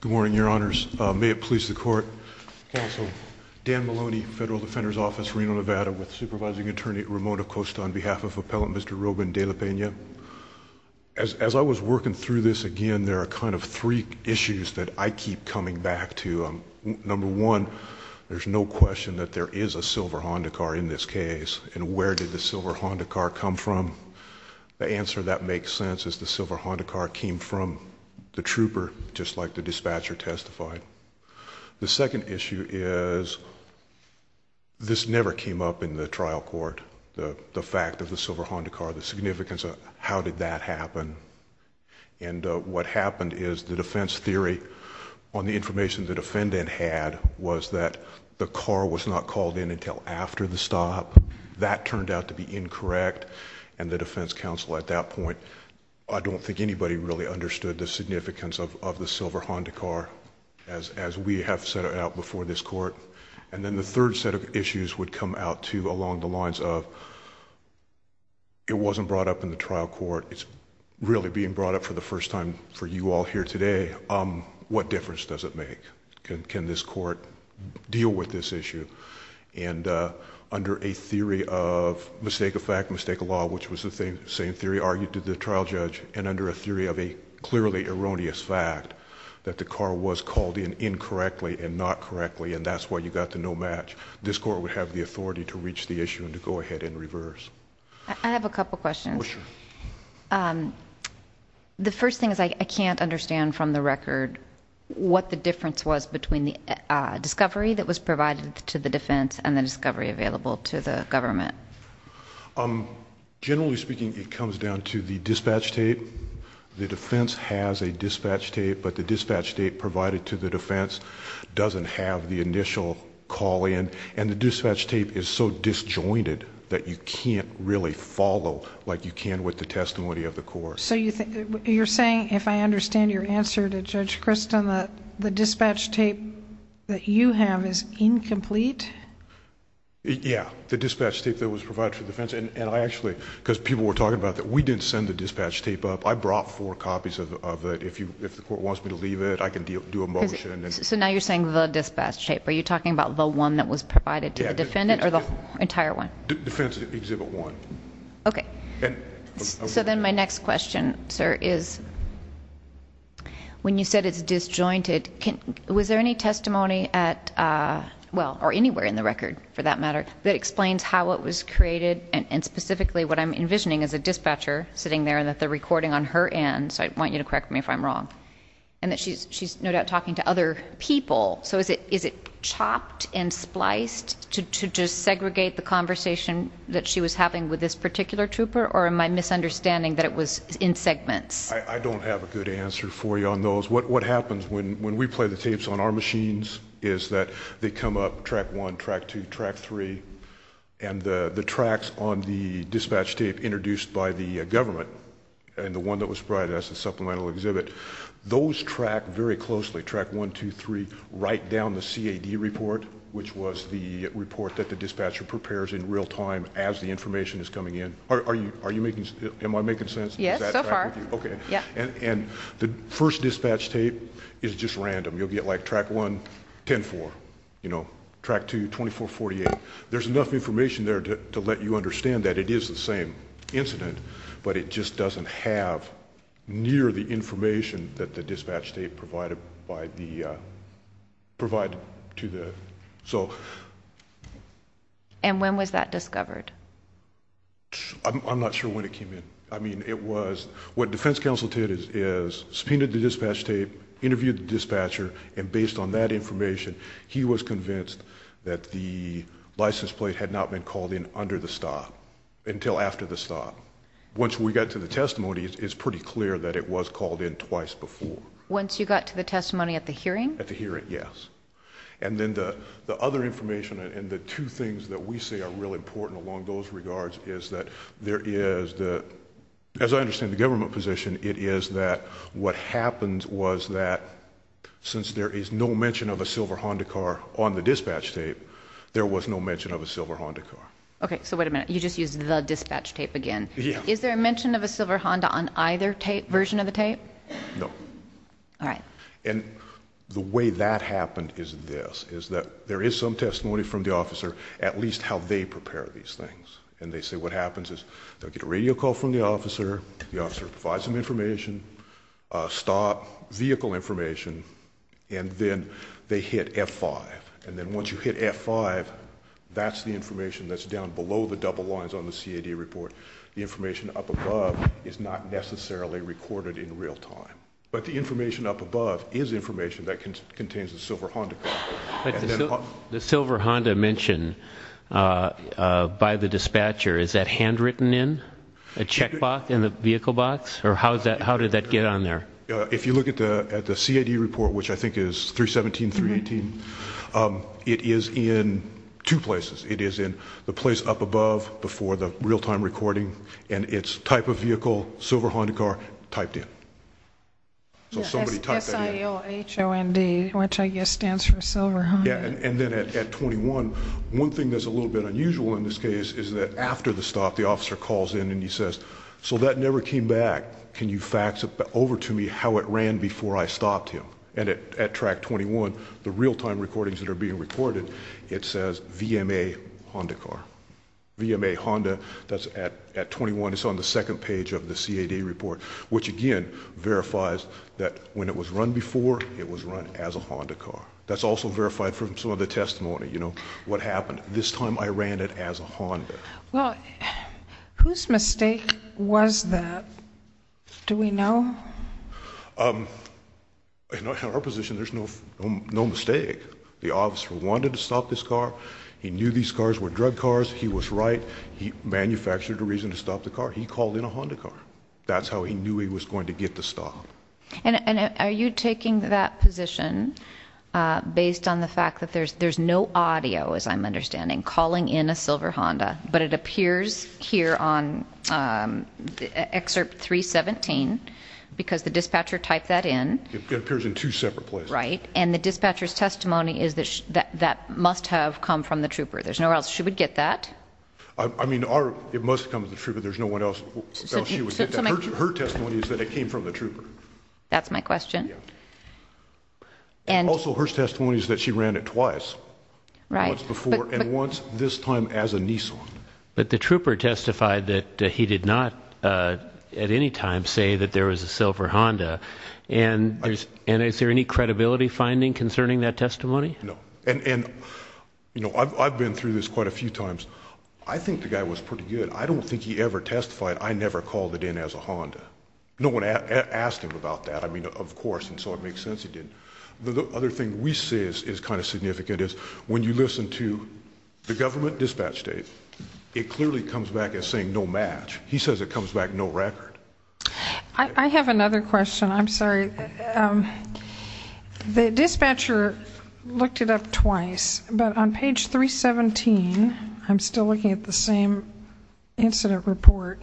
Good morning, your honors. May it please the court. Also, Dan Maloney, Federal Defender's Office, Reno, Nevada, with supervising attorney at Ramona Costa on behalf of Appellant Mr. Ruben De La Pena. As I was working through this again, there are kind of three issues that I keep coming back to. Number one, there's no question that there is a silver Honda car in this case. And where did the silver Honda car come from? The answer that makes sense is the silver Honda car came from the trooper, just like the dispatcher testified. The second issue is this never came up in the trial court, the fact of the silver Honda car, the significance of how did that happen. And what happened is the defense theory on the information the defendant had was that the car was not called in until after the stop. That turned out to be incorrect, and the defense counsel at that point, I don't think anybody really understood the significance of the silver Honda car as we have set it out before this court. And then the third set of issues would come out too along the lines of, it wasn't brought up in the trial court, it's really being brought up for the first time for you all here today, what difference does it make? Can this court deal with this issue? And under a theory of mistake of fact, mistake of law, which was the same theory argued to the trial judge, and under a theory of a clearly erroneous fact that the car was called in incorrectly and not correctly, and that's why you got the no match, this court would have the authority to reach the issue and to go ahead and reverse. Ms. Laird. I have a couple of questions. The first thing is I can't understand from the record what the difference between the dispatch tape and the dispatch tape that's currently available to the government. Mr. Laird. Generally speaking, it comes down to the dispatch tape. The defense has a dispatch tape, but the dispatch tape provided to the defense doesn't have the initial call in, and the dispatch tape is so disjointed that you can't really follow like you can with the testimony of the court. Ms. Agnew. So you're saying, if I understand your answer to Judge Kristin, that the dispatch tape that you have is incomplete? Mr. Laird. Yeah, the dispatch tape that was provided for the defense, and I actually... because people were talking about that. We didn't send the dispatch tape up. I brought four copies of it. If the court wants me to leave it, I can do a motion... Ms. Agnew. So now you're saying the dispatch tape. Are you talking about the one that was provided to the defendant or the entire one? Mr. Laird. Defense Exhibit 1. Ms. Agnew. Okay. Mr. Laird. And... Ms. Agnew. So then my next question, sir, is when you said it's disjointed, was there any testimony at... well, or anywhere in the record, for that matter, that explains how it was created and specifically what I'm envisioning as a dispatcher sitting there and that they're recording on her end, so I want you to correct me if I'm wrong, and that she's no doubt talking to other people. So is it chopped and spliced to just segregate the conversation that she was having with this particular trooper, or am I misunderstanding that it was in segments? Mr. Laird. I don't have a good answer for you on those. What happens when we play the tapes on our machines is that they come up, Track 1, Track 2, Track 3, and the tracks on the dispatch tape introduced by the government and the one that was provided as a supplemental exhibit, those track very closely, Track 1, 2, 3, right down the CAD report, which was the report that the dispatcher prepares in real time as the information is coming in. Are you making... am I making sense? Ms. Agnew. Yes, so far. Ms. Agnew. Okay. Mr. Laird. And the first dispatch tape is just random. You'll get, like, Track 1, 10-4, you know, Track 2, 24-48. There's enough information there to let you understand that it is the same incident, but it just doesn't have near the information that the dispatch tape provided by the... provided to the... so... Ms. Agnew. And when was that discovered? Mr. Laird. I'm not sure when it came in. I mean, it was... what defense counsel did is subpoenaed the dispatch tape, interviewed the dispatcher, and based on that information, he was convinced that the license plate had not been called in under the stop, until after the stop. Once we got to the testimony, it's pretty clear that it was called in twice before. Ms. Agnew. Once you got to the testimony at the hearing? Mr. Laird. At the hearing, yes. And then the other information and the two things that we say are really important along those regards is that there is the... as I understand the government position, it is that what happened was that since there is no mention of a silver Honda car on the dispatch tape, there was no mention of a silver Honda car. Ms. Agnew. Okay, so wait a minute. You just used the dispatch tape again. Mr. Laird. Yeah. Ms. Agnew. Is there a mention of a silver Honda on either tape... version of the tape? Mr. Laird. No. Ms. Agnew. All right. Mr. Laird. And the way that happened is this, is that there is some testimony from the officer, at least how they prepare these things. And they say what happens is they'll get a radio call from the officer, the officer provides some information, a stop, vehicle information, and then they hit F5. And then once you hit F5, that's the information that's down below the double lines on the CAD report. The information up above is not necessarily recorded in real time. But the information up above is information that contains a silver Honda car. Mr. Laird. But the silver Honda mentioned by the dispatcher, is that handwritten in, a check box in the vehicle box, or how did that get on there? Mr. Laird. If you look at the CAD report, which I think is 317, 318, it is in two places. It is in the place up above before the real time recording, and it's type of vehicle, silver Honda car, typed in. So somebody typed that in. S-I-L-H-O-N-D, which I guess stands for silver Honda. Yeah, and then at 21, one thing that's a little bit unusual in this case is that after the stop, the officer calls in and he says, so that never came back. Can you fax over to me how it ran before I stopped him? And at track 21, the real time recordings that are being recorded, it says VMA Honda car. VMA Honda, that's at 21, it's on the second page of the CAD report. Which again, verifies that when it was run before, it was run as a Honda car. That's also verified from some of the testimony. What happened? This time I ran it as a Honda. Well, whose mistake was that? Do we know? In our position, there's no mistake. The officer wanted to stop this car. He knew these cars were drug cars. He was right. He manufactured a reason to stop the car. He called in a Honda car. That's how he knew he was going to get the stop. And are you taking that position based on the fact that there's no audio, as I'm understanding, calling in a silver Honda, but it appears here on excerpt 317, because the dispatcher typed that in. It appears in two separate places. Right, and the dispatcher's testimony is that that must have come from the trooper. There's no way else she would get that. I mean, it must have come from the trooper. There's no way else she would get that. Her testimony is that it came from the trooper. That's my question. Also her testimony is that she ran it twice. Once before, and once this time as a Nissan. But the trooper testified that he did not at any time say that there was a silver Honda. And I've been through this quite a few times. I think the guy was pretty good. I don't think he ever testified I never called it in as a Honda. No one asked him about that. I mean, of course, and so it makes sense he didn't. The other thing we see is kind of significant is when you listen to the government dispatch date, it clearly comes back as saying no match. He says it comes back no record. I have another question. I'm sorry. The dispatcher looked it up twice. But on page 317, I'm still looking at the same incident report.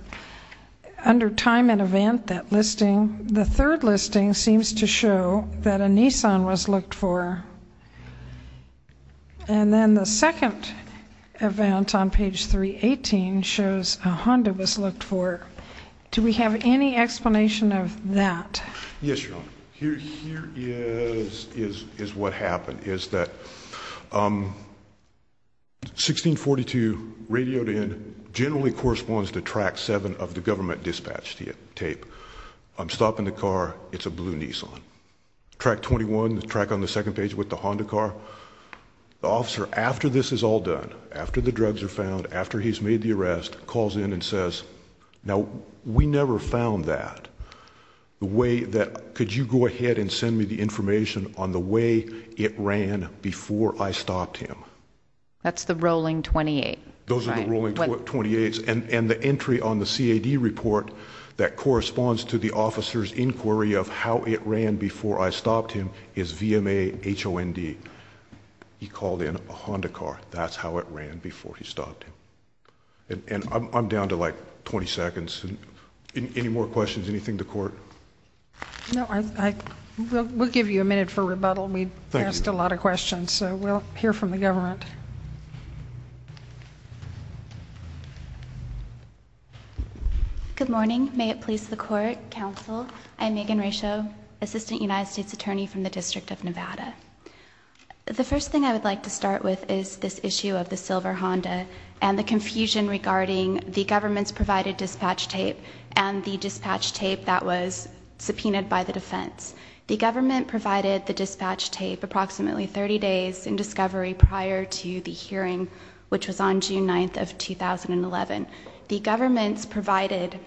Under time and event, that listing, the third listing seems to show that a Nissan was looked for. And then the second event on page 318 shows a Honda was looked for. Do we have any explanation of that? Yes, Your Honor. Here is what happened is that 1642 radioed in generally corresponds to track 7 of the government dispatch tape. I'm stopping the car. It's a blue Nissan. Track 21, the track on the second page with the Honda car. The officer, after this is all done, after the drugs are found, after he's made the arrest, calls in and says, now we never found that. The way that, could you go ahead and send me the information on the way it ran before I stopped him? That's the rolling 28. Those are the rolling 28s. And the entry on the CAD report that corresponds to the officer's inquiry of how it ran before I stopped him is VMA HOND. He called in a Honda car. That's how it ran before he stopped him. And I'm down to like 20 seconds. Any more questions, anything to court? No, we'll give you a minute for rebuttal. We've asked a lot of questions, so we'll hear from the government. Good morning. May it please the court, counsel. I'm Megan Racheau, Assistant United States Attorney from the District of Nevada. The first thing I would like to start with is this issue of the silver Honda and the confusion regarding the government's provided dispatch tape and the dispatch tape that was subpoenaed by the defense. The government provided the dispatch tape approximately 30 days in discovery prior to the hearing, which was on June 9th of 2011. The government's provided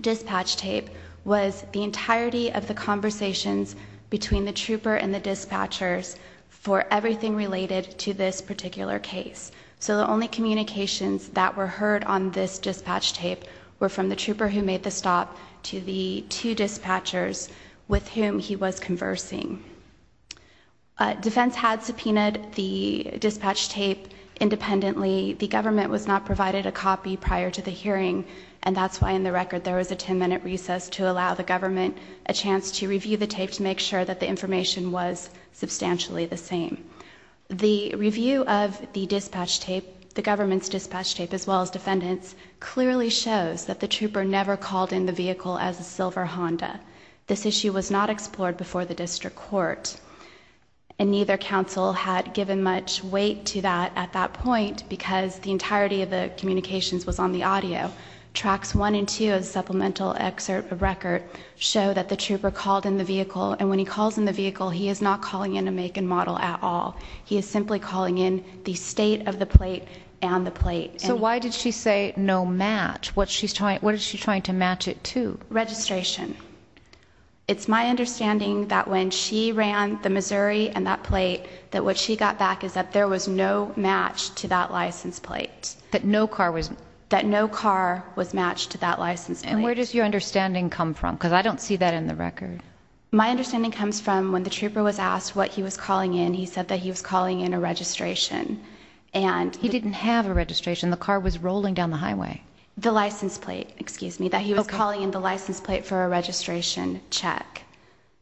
dispatch tape was the entirety of the conversations between the trooper and the dispatchers for everything related to this particular case. So the only communications that were heard on this dispatch tape were from the trooper who made the stop to the two dispatchers with whom he was conversing. Defense had subpoenaed the dispatch tape independently. The government was not provided a copy prior to the hearing, and that's why in the record there was a 10-minute recess to allow the government a chance to review the tape to make sure that the information was substantially the same. The review of the dispatch tape, the government's dispatch tape as well as defendants, clearly shows that the trooper never called in the vehicle as a silver Honda. This issue was not explored before the district court, and neither counsel had given much weight to that at that point because the entirety of the communications was on the audio. Tracks one and two of the supplemental excerpt of record show that the trooper called in the vehicle, and when he calls in the vehicle, he is not calling in a make and model at all. He is simply calling in the state of the plate and the plate. So why did she say no match? What is she trying to match it to? Registration. It's my understanding that when she ran the Missouri and that plate, that what she got back is that there was no match to that license plate. That no car was... That no car was matched to that license plate. And where does your understanding come from? Because I don't see that in the record. My understanding comes from when the trooper was asked what he was calling in, he said that he was calling in a registration and... He didn't have a registration. The car was rolling down the highway. The license plate, excuse me, that he was calling in the license plate for a registration check.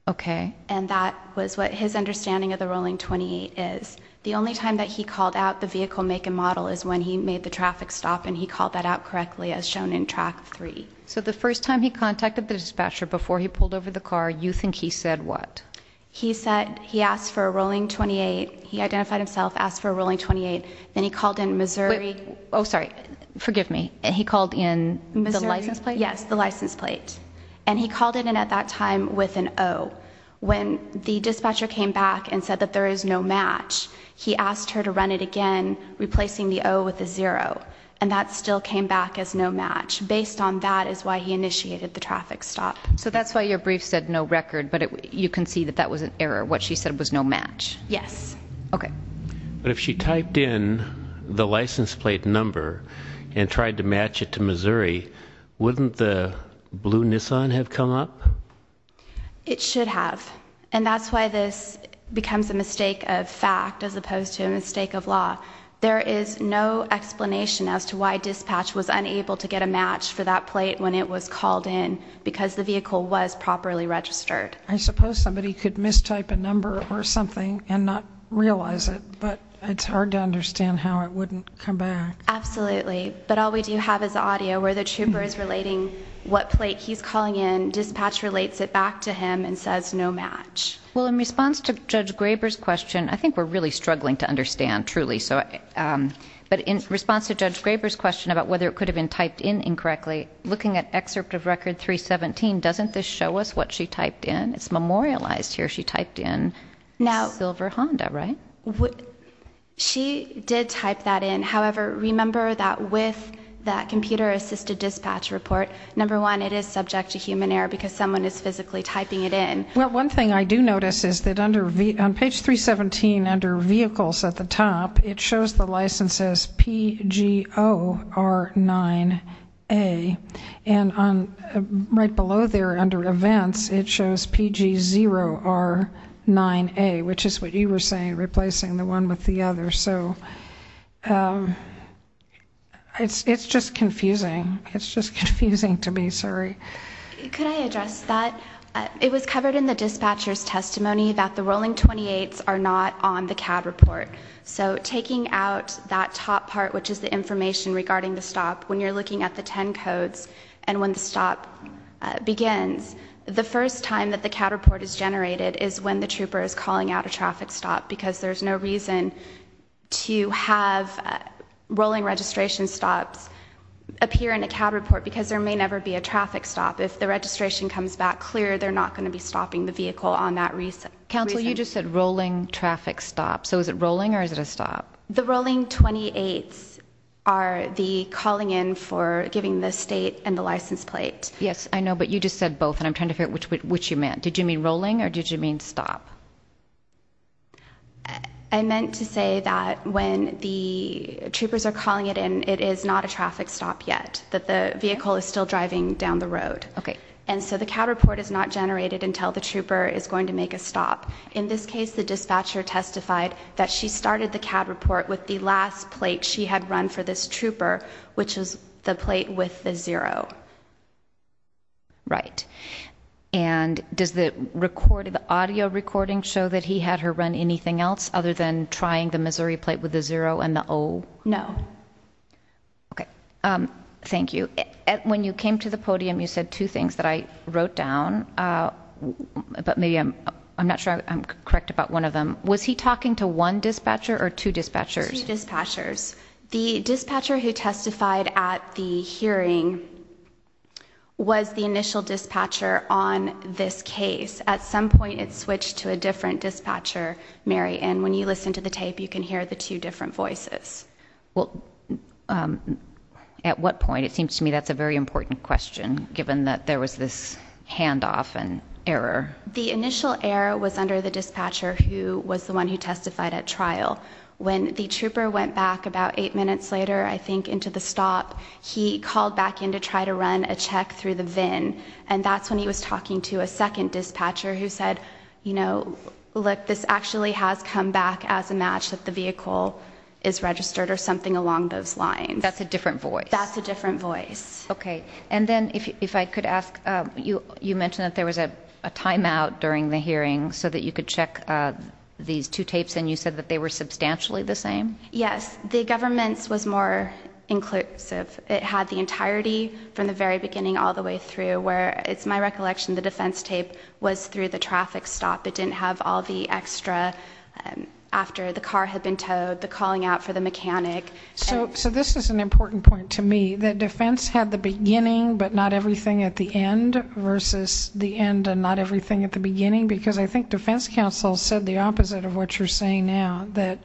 Okay. And that was what his understanding of the rolling 28 is. The only time that he called out the vehicle make and model is when he made the traffic stop and he called that out correctly as shown in track three. So the first time he contacted the dispatcher before he pulled over the car, you think he said what? He said he asked for a rolling 28. He identified himself, asked for a rolling 28. Then he called in Missouri... Oh, sorry. Forgive me. He called in the license plate? Yes, the license plate. And he called it in at that time with an O. When the dispatcher came back and said that there is no match, he asked her to run it again, replacing the O with a zero. And that still came back as no match. Based on that is why he initiated the traffic stop. So that's why your brief said no record, but you can see that that was an error. What she said was no match. Yes. Okay. But if she typed in the license plate number and tried to match it to Missouri, wouldn't the blue Nissan have come up? It should have. And that's why this becomes a mistake of fact as opposed to a mistake of law. There is no explanation as to why dispatch was unable to get a match for that plate when it was called in because the vehicle was properly registered. I suppose somebody could mistype a number or something and not realize it, but it's hard to understand how it wouldn't come back. Absolutely. But all we do have is audio where the trooper is relating what plate he's calling in. Dispatch relates it back to him and says no match. Well, in response to Judge Graber's question, I think we're really struggling to understand truly. But in response to Judge Graber's question about whether it could have been typed in incorrectly, looking at excerpt of record 317, doesn't this show us what she typed in? It's memorialized here. She typed in Silver Honda, right? She did type that in. However, remember that with that computer-assisted dispatch report, number one, it is subject to human error because someone is physically typing it in. Well, one thing I do notice is that on page 317 under vehicles at the top, it shows the license as P-G-O-R-9-A. And right below there under events, it shows P-G-0-R-9-A, which is what you were saying, replacing the one with the other. So it's just confusing. It's just confusing to me, sorry. Could I address that? It was covered in the dispatcher's testimony that the rolling 28s are not on the CAD report. So taking out that top part, which is the information regarding the stop, when you're looking at the 10 codes and when the stop begins, the first time that the CAD report is generated is when the trooper is calling out a traffic stop because there's no reason to have rolling registration stops appear in a CAD report because there may never be a traffic stop. If the registration comes back clear, they're not going to be stopping the vehicle on that reason. Counsel, you just said rolling traffic stop. So is it rolling or is it a stop? The rolling 28s are the calling in for giving the state and the license plate. Yes, I know, but you just said both and I'm trying to figure out which you meant. Did you mean rolling or did you mean stop? I meant to say that when the troopers are calling it in, it is not a traffic stop yet, that the vehicle is still driving down the road. Okay. And so the CAD report is not generated until the trooper is going to make a stop. In this case, the dispatcher testified that she started the CAD report with the last plate she had run for this trooper, which is the plate with the zero. Right. And does the audio recording show that he had her run anything else other than trying the Missouri plate with the zero and the O? No. Okay. Thank you. When you came to the podium, you said two things that I wrote down, but maybe I'm not sure I'm correct about one of them. Was he talking to one dispatcher or two dispatchers? Two dispatchers. The dispatcher who testified at the hearing was the initial dispatcher on this case. At some point, it switched to a different dispatcher, Mary, and when you listen to the tape, you can hear the two different voices. Well, at what point? It seems to me that's a very important question, given that there was this handoff and error. The initial error was under the dispatcher who was the one who testified at trial. When the trooper went back about eight minutes later, I think, into the stop, he called back in to try to run a check through the VIN, and that's when he was talking to a second dispatcher who said, you know, look, this actually has come back as a match that the vehicle is registered or something along those lines. That's a different voice. That's a different voice. Okay. And then if I could ask, you mentioned that there was a timeout during the hearing so that you could check these two tapes, and you said that they were substantially the same? Yes. The government's was more inclusive. It had the entirety from the very beginning all the way through, where it's my recollection the defense tape was through the traffic stop. It didn't have all the extra after the car had been towed, the calling out for the mechanic. So this is an important point to me, that defense had the beginning but not everything at the end versus the end and not everything at the beginning, because I think defense counsel said the opposite of what you're saying now, that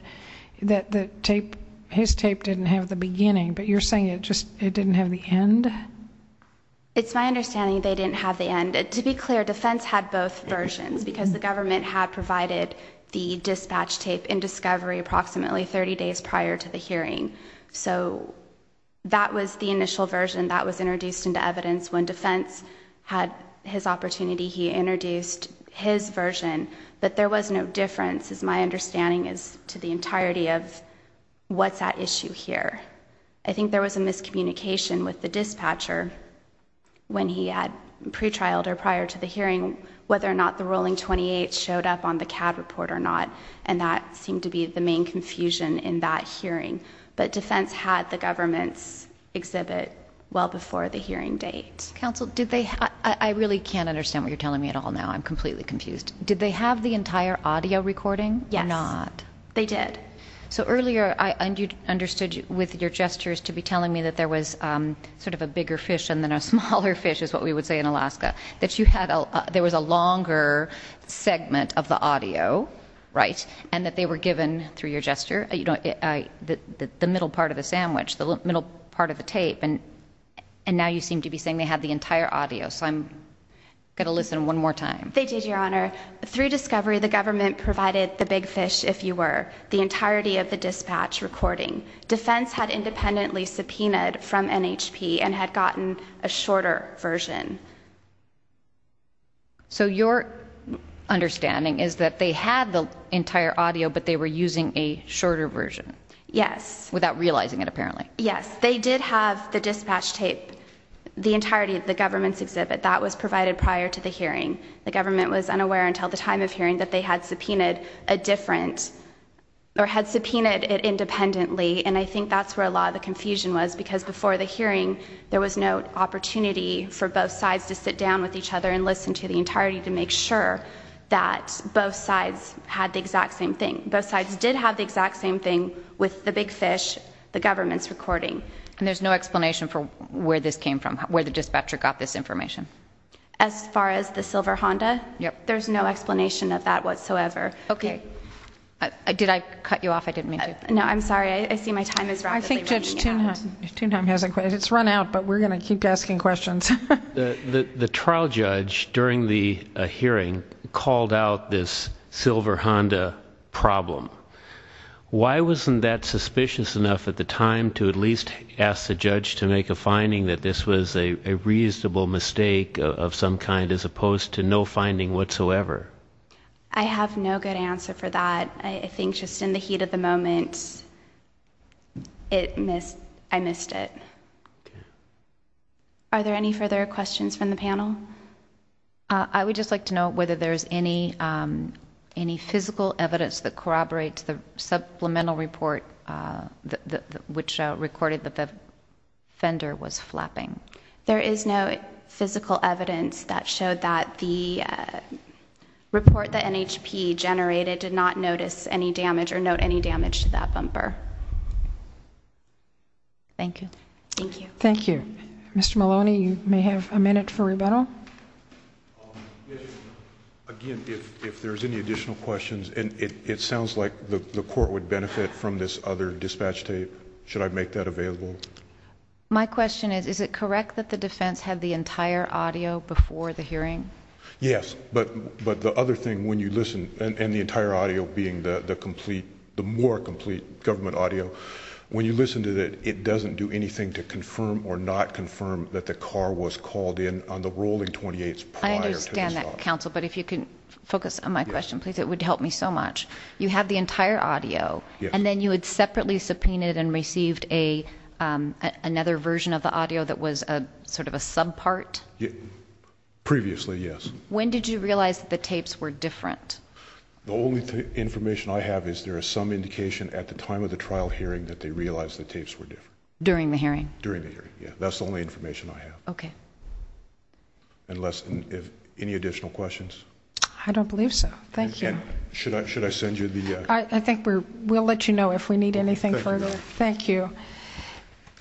his tape didn't have the beginning, but you're saying it just didn't have the end? It's my understanding they didn't have the end. To be clear, defense had both versions because the government had provided the dispatch tape in discovery approximately 30 days prior to the hearing. So that was the initial version that was introduced into evidence. When defense had his opportunity, he introduced his version, but there was no difference as my understanding is to the entirety of what's at issue here. I think there was a miscommunication with the dispatcher when he had pre-trialed or prior to the hearing, whether or not the ruling 28 showed up on the CAD report or not, and that seemed to be the main confusion in that hearing. But defense had the government's exhibit well before the hearing date. Counsel, I really can't understand what you're telling me at all now. I'm completely confused. Did they have the entire audio recording or not? Yes, they did. So earlier, I understood with your gestures to be telling me that there was sort of a bigger fish and then a smaller fish is what we would say in Alaska, that there was a longer segment of the audio, right, and that they were given, through your gesture, the middle part of the sandwich, the middle part of the tape, and now you seem to be saying they had the entire audio. So I'm going to listen one more time. They did, Your Honor. Through discovery, the government provided the big fish, if you were, the entirety of the dispatch recording. Defense had independently subpoenaed from NHP and had gotten a shorter version. So your understanding is that they had the entire audio, but they were using a shorter version. Yes. Without realizing it, apparently. Yes, they did have the dispatch tape, the entirety of the government's exhibit. That was provided prior to the hearing. The government was unaware until the time of hearing that they had subpoenaed a different, or had subpoenaed it independently, and I think that's where a lot of the confusion was because before the hearing, there was no opportunity for both sides to sit down with each other and listen to the entirety to make sure that both sides had the exact same thing. Both sides did have the exact same thing with the big fish. The government's recording. And there's no explanation for where this came from, where the dispatcher got this information? As far as the silver Honda? Yep. There's no explanation of that whatsoever. Okay. Did I cut you off? I didn't mean to. No, I'm sorry. I see my time is running out. I think Judge Toonheim has a question. It's run out, but we're going to keep asking questions. The trial judge during the hearing called out this silver Honda problem. Why wasn't that suspicious enough at the time to at least ask the judge to make a finding that this was a reasonable mistake of some kind as opposed to no finding whatsoever? I have no good answer for that. I think just in the heat of the moment, I missed it. Are there any further questions from the panel? I would just like to know whether there's any physical evidence that corroborates the supplemental report which recorded that the fender was flapping. There is no physical evidence that showed that the report that NHP generated did not notice any damage or note any damage to that bumper. Thank you. Thank you. Mr. Maloney, you may have a minute for rebuttal. Again, if there's any additional questions, and it sounds like the court would benefit from this other dispatch tape, should I make that available? My question is, is it correct that the defense had the entire audio before the hearing? Yes, but the other thing when you listen, and the entire audio being the more complete government audio, when you listen to it, it doesn't do anything to confirm or not confirm that the car was called in on the rolling 28s prior to the stop. I understand that, counsel, but if you can focus on my question, please, it would help me so much. You have the entire audio, and then you had separately subpoenaed and received another version of the audio that was a sort of a sub part? Previously, yes. When did you realize that the tapes were different? The only information I have is there is some indication at the time of the trial hearing that they realized the tapes were different. During the hearing? During the hearing, yeah. That's the only information I have. Okay. Unless, any additional questions? I don't believe so. Thank you. Should I send you the- I think we'll let you know if we need anything further. Thank you.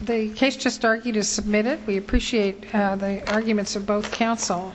The case just argued is submitted. We appreciate the arguments of both counsel.